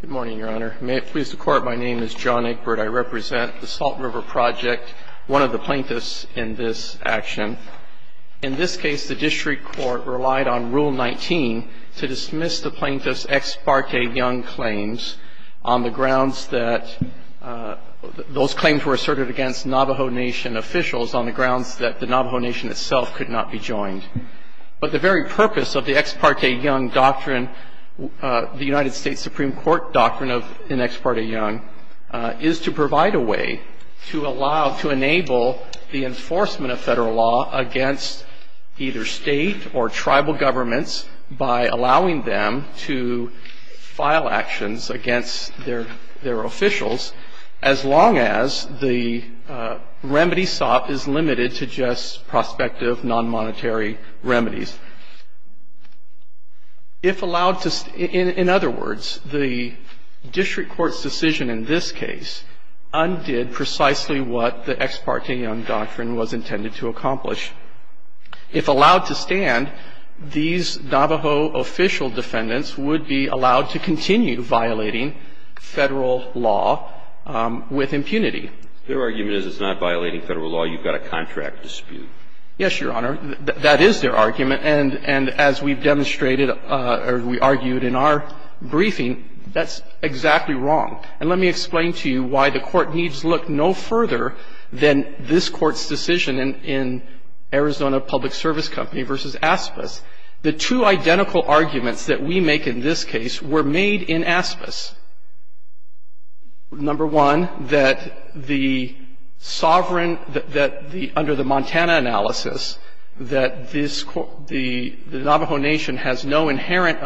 Good morning, Your Honor. May it please the Court, my name is John Egbert. I represent the Salt River Project, one of the plaintiffs in this action. In this case, the district court relied on Rule 19 to dismiss the plaintiff's Ex parte Young claims on the grounds that those claims were asserted against Navajo Nation officials on the grounds that the Navajo Nation itself could not be joined. But the very purpose of the Ex parte Young doctrine, the United States Supreme Court doctrine in Ex parte Young, is to provide a way to allow, to enable the enforcement of federal law against either state or tribal governments by allowing them to file actions against their officials, as long as the remedy sought is limited to just prospective non-monetary remedies. If allowed to stand, in other words, the district court's decision in this case undid precisely what the Ex parte Young doctrine was intended to accomplish. If allowed to stand, these Navajo official defendants would be allowed to continue violating federal law with impunity. If their argument is it's not violating federal law, you've got a contract dispute. Yes, Your Honor. That is their argument. And as we've demonstrated or we argued in our briefing, that's exactly wrong. And let me explain to you why the Court needs look no further than this Court's decision in Arizona Public Service Company v. Aspas. The two identical arguments that we make in this case were made in Aspas. Number one, that the sovereign, that the, under the Montana analysis, that this, the Navajo Nation has no inherent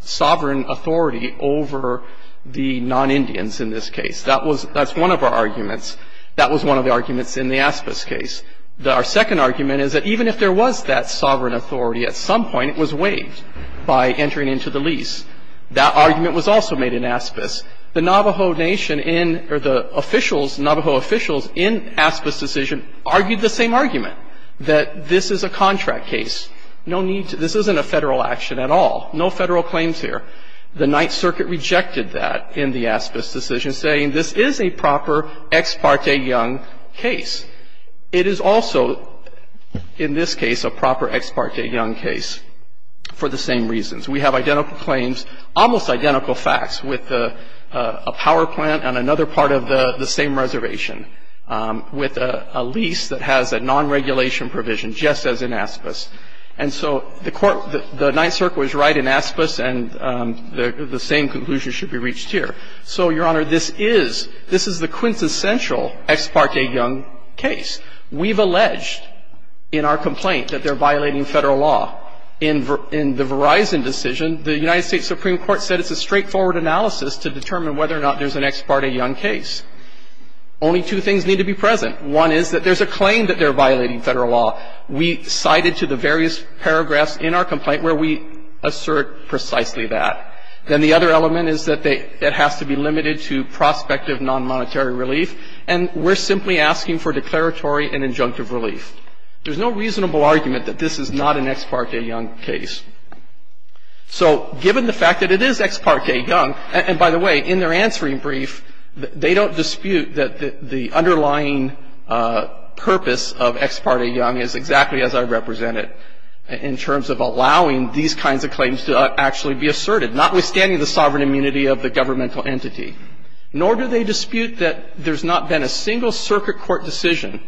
sovereign authority over the non-Indians in this case. That was, that's one of our arguments. That was one of the arguments in the Aspas case. Our second argument is that even if there was that sovereign authority, at some point it was waived by entering into the lease. That argument was also made in Aspas. The Navajo Nation in, or the officials, Navajo officials in Aspas' decision argued the same argument, that this is a contract case. No need to, this isn't a federal action at all. No federal claims here. The Ninth Circuit rejected that in the Aspas' decision, saying this is a proper Ex parte Young case. It is also, in this case, a proper Ex parte Young case for the same reasons. We have identical claims, almost identical facts, with a power plant and another part of the same reservation, with a lease that has a non-regulation provision just as in Aspas. And so the court, the Ninth Circuit was right in Aspas, and the same conclusion should be reached here. So, Your Honor, this is, this is the quintessential Ex parte Young case. We've alleged in our complaint that they're violating Federal law. In the Verizon decision, the United States Supreme Court said it's a straightforward analysis to determine whether or not there's an Ex parte Young case. Only two things need to be present. One is that there's a claim that they're violating Federal law. We cited to the various paragraphs in our complaint where we assert precisely that. Then the other element is that they, it has to be limited to prospective non-monetary relief. And we're simply asking for declaratory and injunctive relief. There's no reasonable argument that this is not an Ex parte Young case. So, given the fact that it is Ex parte Young, and by the way, in their answering brief, they don't dispute that the underlying purpose of Ex parte Young is exactly as I represent it in terms of allowing these kinds of claims to actually be asserted, notwithstanding the sovereign immunity of the governmental entity. Nor do they dispute that there's not been a single circuit court decision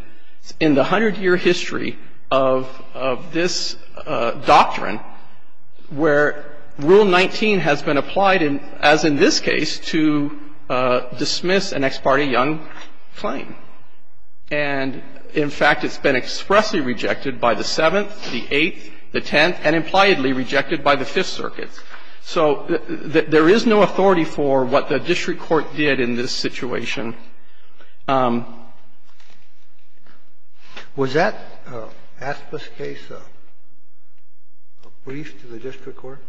in the hundred-year history of, of this doctrine where Rule 19 has been applied, as in this case, to dismiss an Ex parte Young claim. And, in fact, it's been expressly rejected by the Seventh, the Eighth, the Tenth, and impliedly rejected by the Fifth Circuit. So there is no authority for what the district court did in this situation. Kennedy. Was that Aspas case a brief to the district court?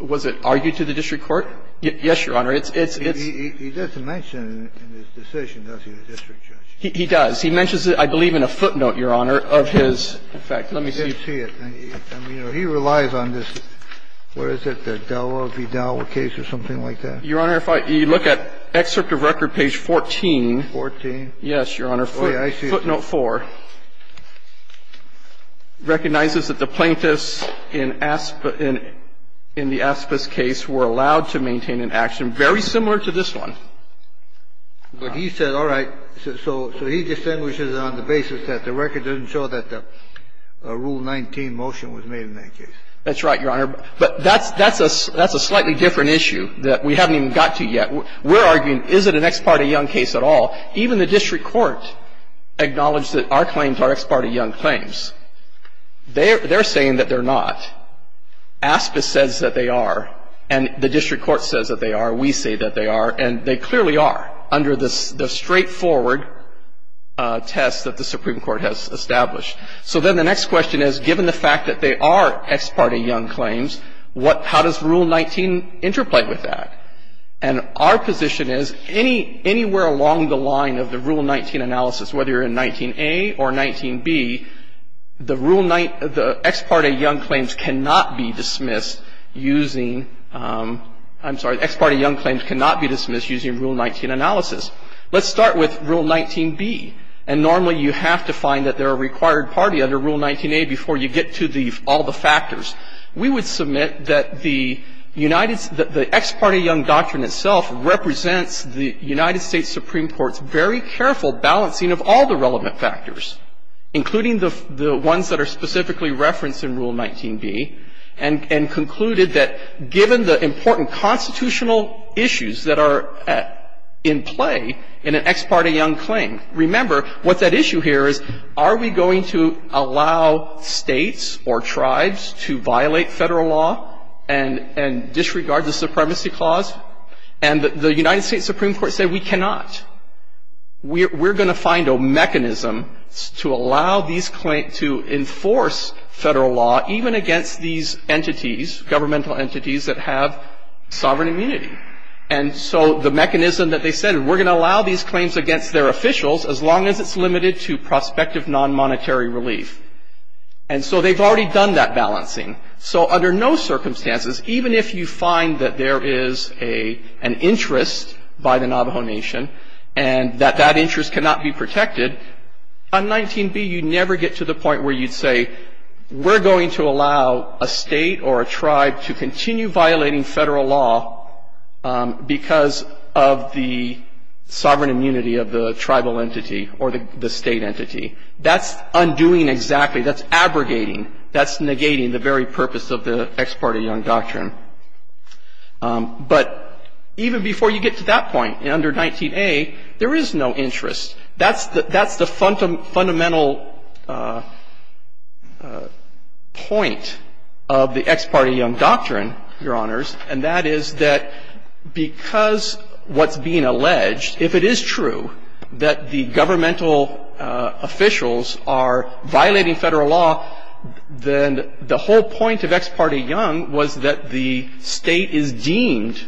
Was it argued to the district court? Yes, Your Honor. It's, it's, it's. Well, he, he doesn't mention it in his decision, does he, the district judge? He, he does. He mentions it, I believe, in a footnote, Your Honor, of his effect. Let me see. I can't see it. I mean, you know, he relies on this. Where is it? The Dowell v. Dowell case or something like that? Your Honor, if I, you look at excerpt of record page 14. Fourteen? Yes, Your Honor. Oh, yeah. I see it. Footnote 4 recognizes that the plaintiffs in Aspa, in, in the Aspas case were allowed to maintain an action very similar to this one. But he said, all right, so, so he distinguishes on the basis that the record doesn't show that the Rule 19 motion was made in that case. That's right, Your Honor. But that's, that's a, that's a slightly different issue that we haven't even got to yet. We're arguing, is it an ex parte young case at all? Even the district court acknowledged that our claims are ex parte young claims. They're, they're saying that they're not. Aspa says that they are. And the district court says that they are. We say that they are. And they clearly are under the, the straightforward test that the Supreme Court has established. So then the next question is, given the fact that they are ex parte young claims, what, how does Rule 19 interplay with that? And our position is, any, anywhere along the line of the Rule 19 analysis, whether you're in 19A or 19B, the Rule 19, the ex parte young claims cannot be dismissed using, I'm sorry, ex parte young claims cannot be dismissed using Rule 19 analysis. Let's start with Rule 19B. And normally you have to find that they're a required party under Rule 19A before you get to the, all the factors. We would submit that the United, the ex parte young doctrine itself represents the United States Supreme Court's very careful balancing of all the relevant factors, including the, the ones that are specifically referenced in Rule 19B, and, and concluded that given the important constitutional issues that are at, in play in an ex parte young claim, remember what that issue here is, are we going to allow States or tribes to violate Federal law and, and disregard the supremacy clause? And the United States Supreme Court said we cannot. We're, we're going to find a mechanism to allow these claims, to enforce Federal law, even against these entities, governmental entities that have sovereign immunity. And so the mechanism that they said, we're going to allow these claims against their officials, as long as it's limited to prospective non-monetary relief. And so they've already done that balancing. So under no circumstances, even if you find that there is a, an interest by the Navajo Nation, and that that interest cannot be protected, on 19B you never get to the point where you'd say, we're going to allow a State or a tribe to continue violating Federal law because of the sovereign immunity of the tribal entity or the, the State entity. That's undoing exactly, that's abrogating. That's negating the very purpose of the Ex parte Young Doctrine. But even before you get to that point, under 19A, there is no interest. That's the, that's the fundamental point of the Ex parte Young Doctrine, Your Honors, and that is that because what's being alleged, if it is true that the governmental officials are violating Federal law, then the whole point of Ex parte Young was that the State is deemed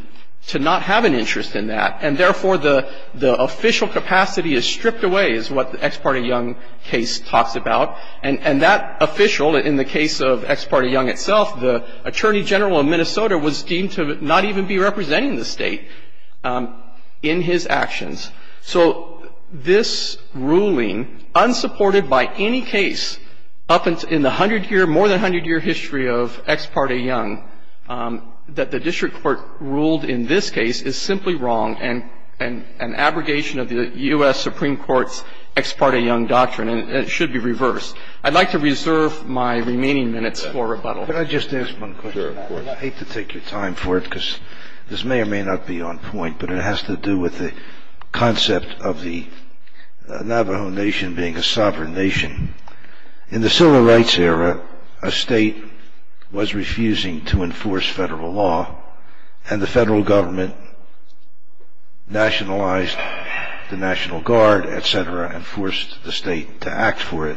to not have an interest in that. And therefore, the, the official capacity is stripped away, is what the Ex parte Young case talks about. And, and that official, in the case of Ex parte Young itself, the Attorney General of Minnesota was deemed to not even be representing the State in his actions. So this ruling, unsupported by any case up in the 100-year, more than 100-year history of Ex parte Young, that the district court ruled in this case is simply wrong and, and, and abrogation of the U.S. Supreme Court's Ex parte Young Doctrine, and it should be reversed. I'd like to reserve my remaining minutes for rebuttal. Can I just ask one question? Sure, of course. I hate to take your time for it, because this may or may not be on point, but it has to do with the concept of the Navajo Nation being a sovereign nation. In the Civil Rights era, a State was refusing to enforce Federal law, and the Federal government nationalized the National Guard, et cetera, and forced the State to act for it.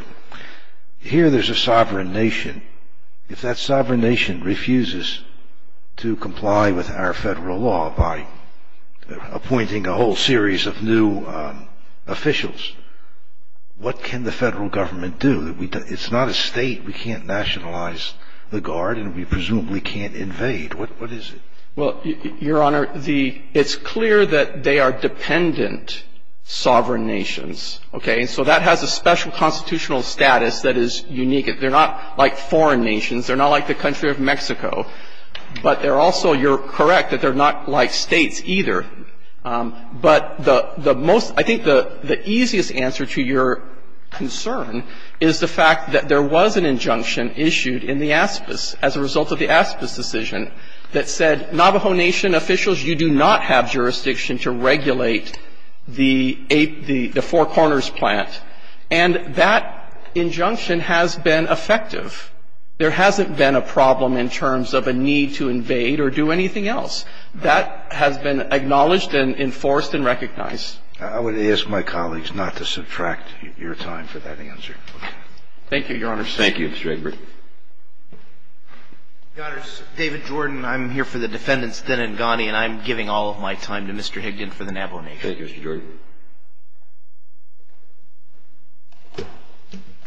Here there's a sovereign nation. If that sovereign nation refuses to comply with our Federal law by appointing a whole series of new officials, what can the Federal government do? It's not a State. We can't nationalize the Guard, and we presumably can't invade. What, what is it? Well, Your Honor, the, it's clear that they are dependent sovereign nations. Okay? So that has a special constitutional status that is unique. They're not like foreign nations. They're not like the country of Mexico. But they're also, you're correct that they're not like States either. But the, the most, I think the, the easiest answer to your concern is the fact that there was an injunction issued in the ASPIS as a result of the ASPIS decision that said Navajo Nation officials, you do not have jurisdiction to regulate the, the Four Corners plant. And that injunction has been effective. There hasn't been a problem in terms of a need to invade or do anything else. That has been acknowledged and enforced and recognized. I would ask my colleagues not to subtract your time for that answer. Thank you, Your Honor. Thank you, Mr. Egbert. Your Honors, David Jordan. I'm here for the defendants, Thin and Ghani, and I'm giving all of my time to Mr. Higdon for the Navajo Nation. Thank you, Mr. Jordan.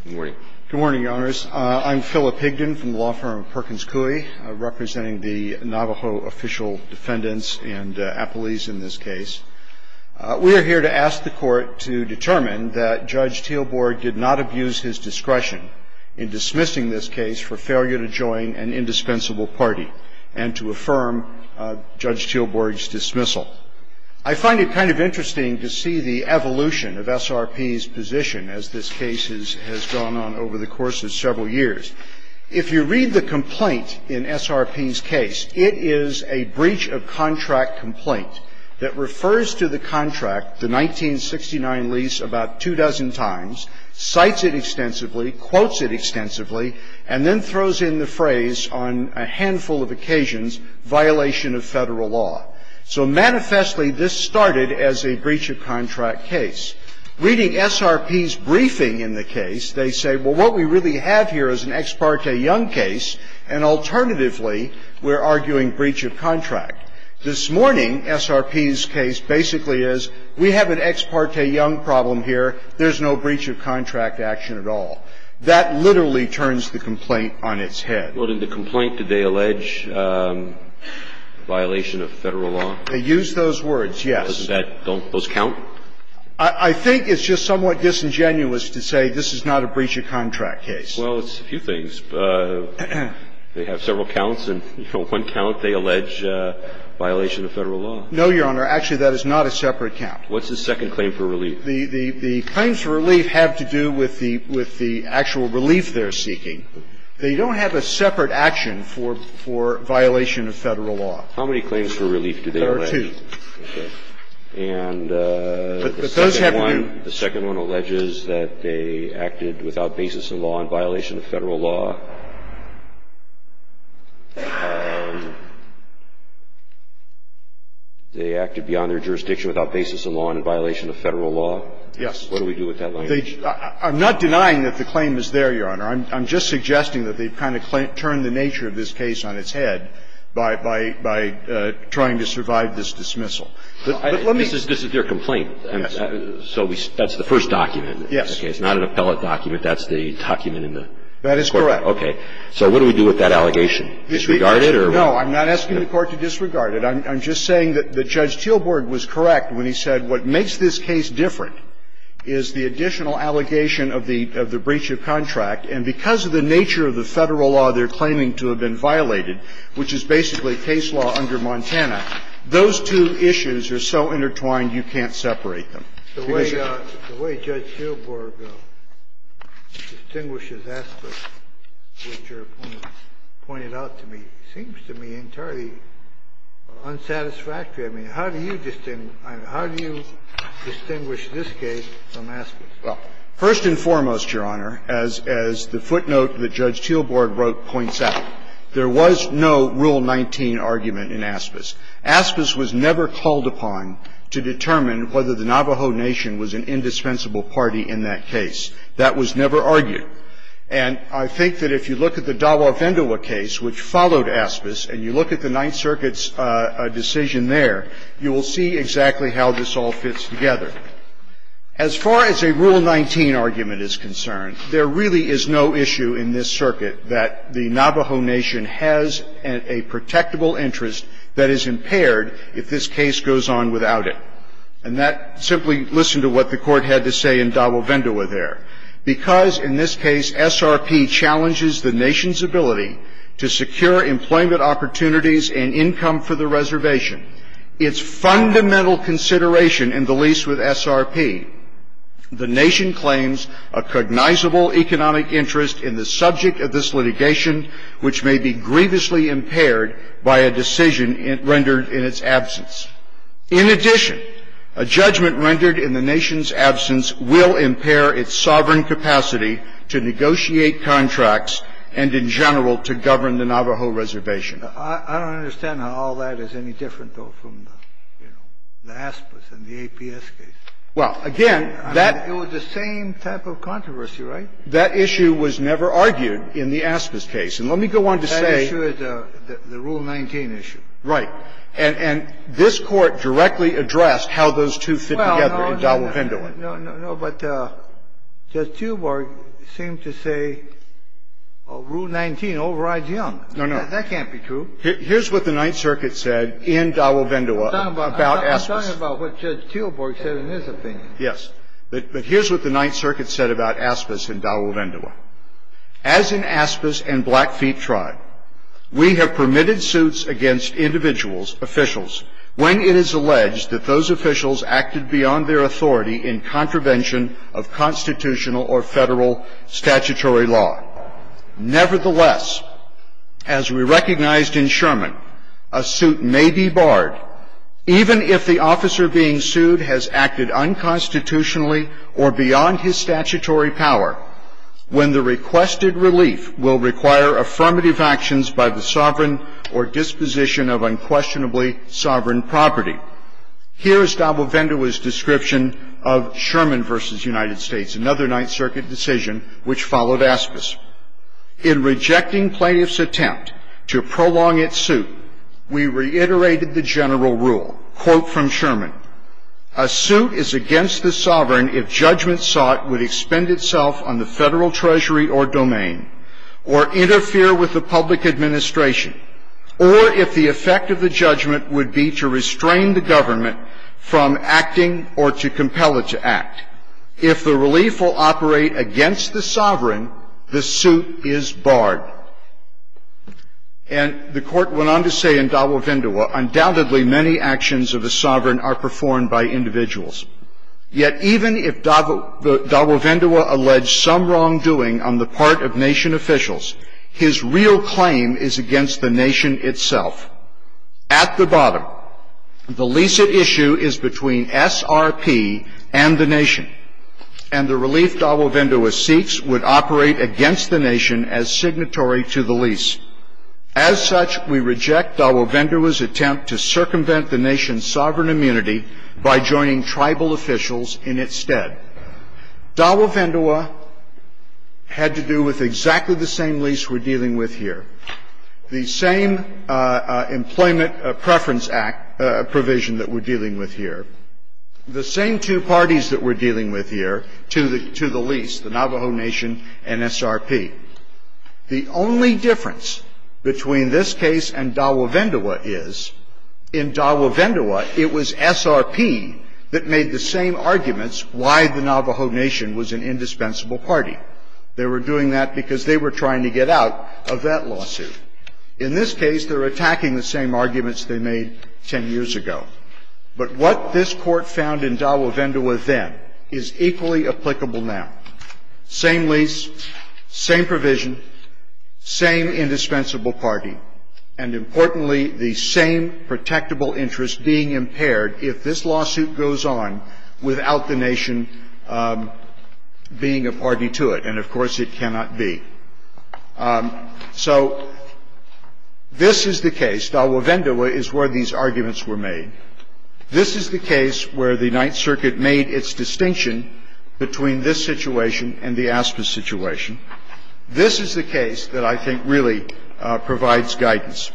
Good morning. Good morning, Your Honors. I'm Philip Higdon from the law firm of Perkins Coie, representing the Navajo official defendants and appellees in this case. We are here to ask the Court to determine that Judge Teelborg did not abuse his discretion in dismissing this case for failure to join an indispensable party and to affirm Judge Teelborg's dismissal. I find it kind of interesting to see the evolution of SRP's position as this case has gone on over the course of several years. If you read the complaint in SRP's case, it is a breach of contract complaint that refers to the contract, the 1969 lease, about two dozen times, cites it extensively, quotes it extensively, and then throws in the phrase on a handful of occasions, violation of Federal law. So manifestly, this started as a breach of contract case. Reading SRP's briefing in the case, they say, well, what we really have here is an ex parte young case, and alternatively, we're arguing breach of contract. This morning, SRP's case basically is, we have an ex parte young problem here, there's no breach of contract action at all. That literally turns the complaint on its head. Well, in the complaint, did they allege violation of Federal law? They used those words, yes. Doesn't that don't those count? I think it's just somewhat disingenuous to say this is not a breach of contract case. Well, it's a few things. They have several counts, and one count they allege violation of Federal law. No, Your Honor. Actually, that is not a separate count. What's the second claim for relief? The claims for relief have to do with the actual relief they're seeking. They don't have a separate action for violation of Federal law. How many claims for relief do they allege? There are two. Okay. And the second one alleges that they acted without basis in law in violation of Federal law. They acted beyond their jurisdiction without basis in law in violation of Federal law. Yes. What do we do with that language? I'm not denying that the claim is there, Your Honor. I'm just suggesting that they've kind of turned the nature of this case on its head by trying to survive this dismissal. This is their complaint. Yes. So that's the first document. Yes. Okay. It's not an appellate document. That's the document in the court. That is correct. So what do we do with that allegation? Disregard it? No, I'm not asking the Court to disregard it. I'm just saying that Judge Teelborg was correct when he said what makes this case different is the additional allegation of the breach of contract, and because of the nature of the Federal law they're claiming to have been violated, which is basically case law under Montana, those two issues are so intertwined, you can't separate them. The way Judge Teelborg distinguishes aspects which are pointed out to me seems to me entirely unsatisfactory. I mean, how do you distinguish this case from Aspis? Well, first and foremost, Your Honor, as the footnote that Judge Teelborg wrote points out, there was no Rule 19 argument in Aspis. Aspis was never called upon to determine whether the Navajo Nation was an indispensable party in that case. That was never argued. And I think that if you look at the Dawa Vendoa case, which followed Aspis, and you look at the Ninth Circuit's decision there, you will see exactly how this all fits together. As far as a Rule 19 argument is concerned, there really is no issue in this circuit that the Navajo Nation has a protectable interest that is impaired if this case goes on without it. And that, simply listen to what the Court had to say in Dawa Vendoa there. Because, in this case, SRP challenges the Nation's ability to secure employment opportunities and income for the reservation. Its fundamental consideration in the lease with SRP, the Nation claims a cognizable economic interest in the subject of this litigation, which may be grievously impaired by a decision rendered in its absence. In addition, a judgment rendered in the Nation's absence will impair its sovereign capacity to negotiate contracts and, in general, to govern the Navajo reservation. I don't understand how all that is any different, though, from the Aspis and the APS case. Well, again, that It was the same type of controversy, right? That issue was never argued in the Aspis case. And let me go on to say That issue is the Rule 19 issue. Right. And this Court directly addressed how those two fit together in Dawa Vendoa. No, no, no. But Judge Teelborg seemed to say Rule 19 overrides Young. No, no. That can't be true. Here's what the Ninth Circuit said in Dawa Vendoa about Aspis. I'm talking about what Judge Teelborg said in his opinion. Yes. But here's what the Ninth Circuit said about Aspis in Dawa Vendoa. As in Aspis and Blackfeet Tribe, we have permitted suits against individuals, officials, when it is alleged that those officials acted beyond their authority in contravention of constitutional or federal statutory law. Nevertheless, as we recognized in Sherman, a suit may be barred even if the officer being requested relief will require affirmative actions by the sovereign or disposition of unquestionably sovereign property. Here is Dawa Vendoa's description of Sherman v. United States, another Ninth Circuit decision which followed Aspis. In rejecting plaintiff's attempt to prolong its suit, we reiterated the general rule. Quote from Sherman. A suit is against the sovereign if judgment sought would expend itself on the federal treasury or domain, or interfere with the public administration, or if the effect of the judgment would be to restrain the government from acting or to compel it to act. If the relief will operate against the sovereign, the suit is barred. And the court went on to say in Dawa Vendoa, undoubtedly many actions of a sovereign are performed by individuals. Yet even if Dawa Vendoa alleged some wrongdoing on the part of nation officials, his real claim is against the nation itself. At the bottom, the lease at issue is between SRP and the nation, and the relief Dawa Vendoa seeks would operate against the nation as signatory to the lease. As such, we reject Dawa Vendoa's attempt to circumvent the nation's sovereign immunity by joining tribal officials in its stead. Dawa Vendoa had to do with exactly the same lease we're dealing with here, the same Employment Preference Act provision that we're dealing with here, the same two parties that we're dealing with here, to the lease, the Navajo Nation and SRP. The only difference between this case and Dawa Vendoa is, in Dawa Vendoa, it was SRP that made the same arguments why the Navajo Nation was an indispensable party. They were doing that because they were trying to get out of that lawsuit. In this case, they're attacking the same arguments they made 10 years ago. But what this Court found in Dawa Vendoa then is equally applicable now. Same lease, same provision, same indispensable party, and importantly, the same protectable interest being impaired if this lawsuit goes on without the nation being a party to it. And, of course, it cannot be. So this is the case. Dawa Vendoa is where these arguments were made. This is the case where the Ninth Circuit made its distinction between this situation and the Aspas situation. This is the case that I think really provides guidance.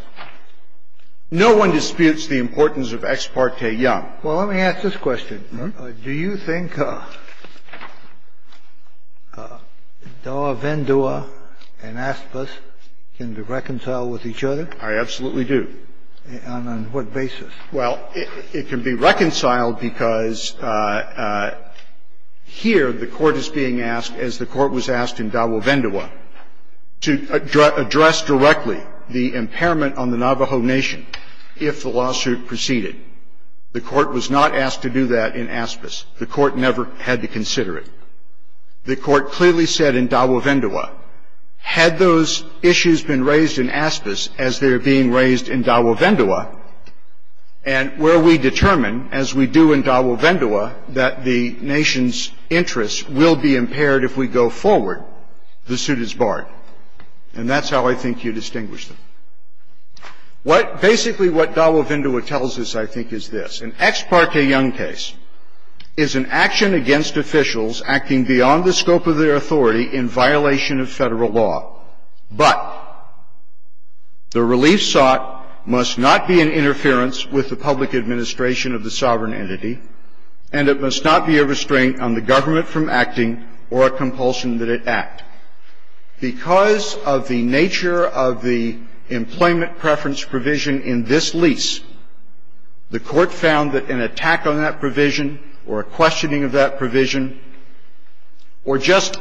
No one disputes the importance of ex parte Young. Well, let me ask this question. Do you think Dawa Vendoa and Aspas can be reconciled with each other? I absolutely do. And on what basis? Well, it can be reconciled because here the Court is being asked, as the Court was asked in Dawa Vendoa, to address directly the impairment on the Navajo Nation if the lawsuit proceeded. The Court was not asked to do that in Aspas. The Court never had to consider it. The Court clearly said in Dawa Vendoa, had those issues been raised in Aspas as they are being raised in Dawa Vendoa, and where we determine, as we do in Dawa Vendoa, that the nation's interests will be impaired if we go forward, the suit is barred. And that's how I think you distinguish them. Basically what Dawa Vendoa tells us, I think, is this. An ex parte Young case is an action against officials acting beyond the scope of their authority in violation of federal law. But the relief sought must not be in interference with the public administration of the sovereign entity, and it must not be a restraint on the government from acting or a compulsion that it act. Because of the nature of the employment preference provision in this lease, the Court found that an attack on that provision or a questioning of that provision or just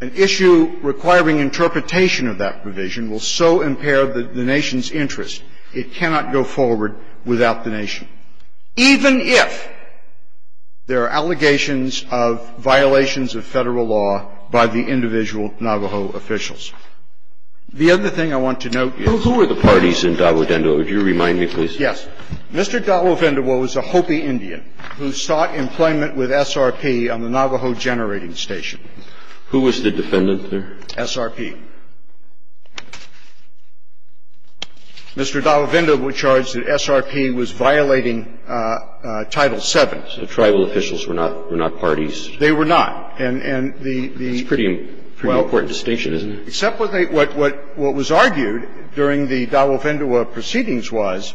an issue requiring interpretation of that provision will so impair the nation's interest, it cannot go forward without the nation, even if there are allegations of violations of federal law by the individual Navajo officials. The other thing I want to note is the parties in Dawa Vendoa. Would you remind me, please? Yes. Mr. Dawa Vendoa was a Hopi Indian who sought employment with SRP on the Navajo generating station. Who was the defendant there? SRP. Mr. Dawa Vendoa was charged that SRP was violating Title VII. So tribal officials were not parties. They were not. And the – It's a pretty important distinction, isn't it? Except what they – what was argued during the Dawa Vendoa proceedings was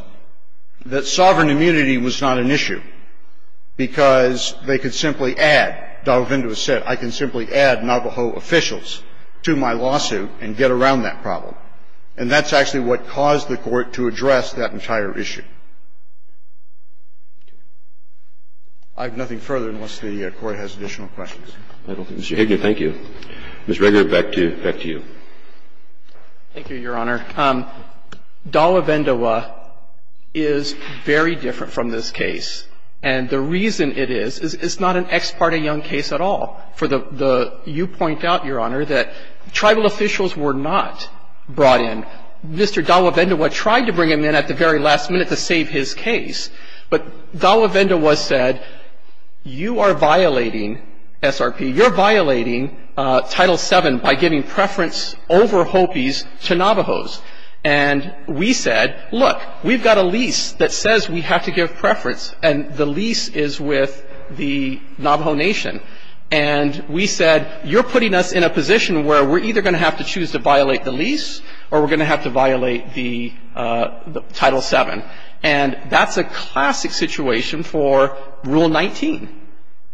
that sovereign immunity was not an issue because they could simply add, Dawa Vendoa said, I can simply add Navajo officials to my lawsuit and get around that problem. And that's actually what caused the Court to address that entire issue. I have nothing further unless the Court has additional questions. Mr. Higgins, thank you. Ms. Regner, back to you. Thank you, Your Honor. Dawa Vendoa is very different from this case. And the reason it is, it's not an ex parte young case at all. For the – you point out, Your Honor, that tribal officials were not brought in. Mr. Dawa Vendoa tried to bring him in at the very last minute to save his case, but Dawa Vendoa was said, you are violating SRP. You're violating Title VII by giving preference over Hopis to Navajos. And we said, look, we've got a lease that says we have to give preference, and the lease is with the Navajo Nation. And we said, you're putting us in a position where we're either going to have to choose to violate the lease or we're going to have to violate the Title VII. And that's a classic situation for Rule 19.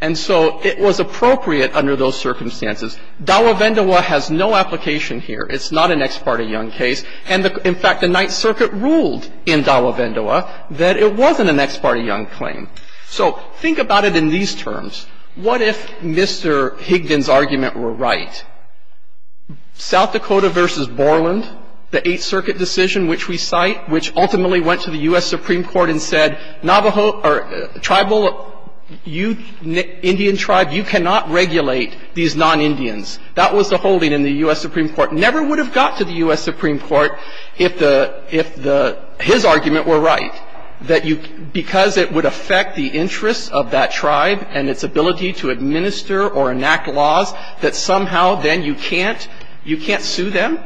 And so it was appropriate under those circumstances. Dawa Vendoa has no application here. It's not an ex parte young case. And, in fact, the Ninth Circuit ruled in Dawa Vendoa that it wasn't an ex parte young claim. So think about it in these terms. What if Mr. Higgins' argument were right? South Dakota versus Borland, the Eighth Circuit decision which we cite, which ultimately went to the U.S. Supreme Court and said, tribal Indian tribe, you cannot regulate these non-Indians. That was the holding in the U.S. Supreme Court. Never would have got to the U.S. Supreme Court if his argument were right, that because it would affect the interests of that tribe and its ability to administer or enact laws that somehow then you can't sue them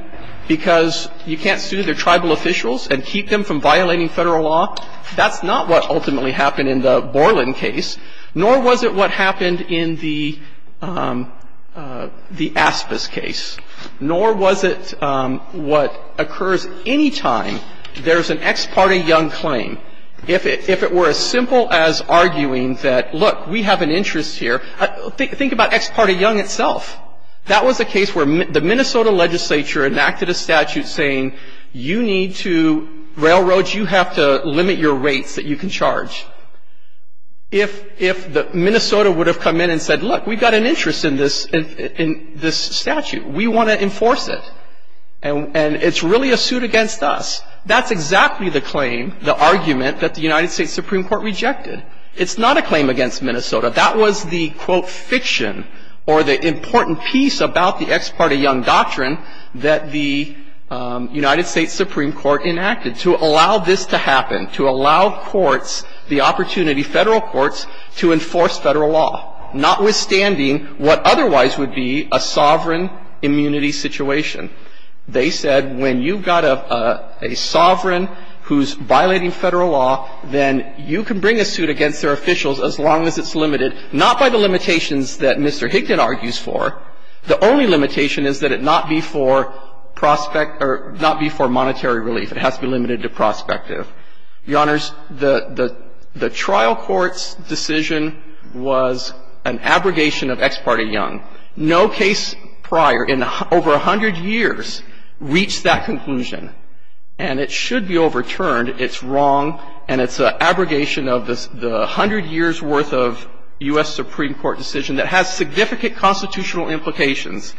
because you can't sue their tribal officials and keep them from violating federal law. That's not what ultimately happened in the Borland case. Nor was it what happened in the Aspis case. Nor was it what occurs any time there's an ex parte young claim. If it were as simple as arguing that, look, we have an interest here, think about ex parte young itself. That was a case where the Minnesota legislature enacted a statute saying, you need to, railroads, you have to limit your rates that you can charge. If Minnesota would have come in and said, look, we've got an interest in this statute. We want to enforce it. And it's really a suit against us. That's exactly the claim, the argument that the United States Supreme Court rejected. It's not a claim against Minnesota. That was the, quote, fiction or the important piece about the ex parte young doctrine that the United States Supreme Court enacted to allow this to happen, to allow courts the opportunity, federal courts, to enforce federal law, notwithstanding what otherwise would be a sovereign immunity situation. They said, when you've got a sovereign who's violating federal law, then you can bring a suit against their officials as long as it's limited, not by the limitations that Mr. Hickett argues for. The only limitation is that it not be for prospect or not be for monetary relief. It has to be limited to prospective. Your Honors, the trial court's decision was an abrogation of ex parte young. No case prior in over 100 years reached that conclusion. And it should be overturned. It's wrong. And it's an abrogation of the 100 years' worth of U.S. Supreme Court decision that has significant constitutional implications.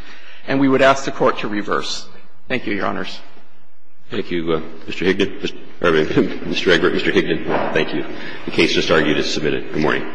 And we would ask the Court to reverse. Thank you, Your Honors. Thank you, Mr. Hickett. Mr. Hickett, thank you. The case just argued is submitted. Good morning.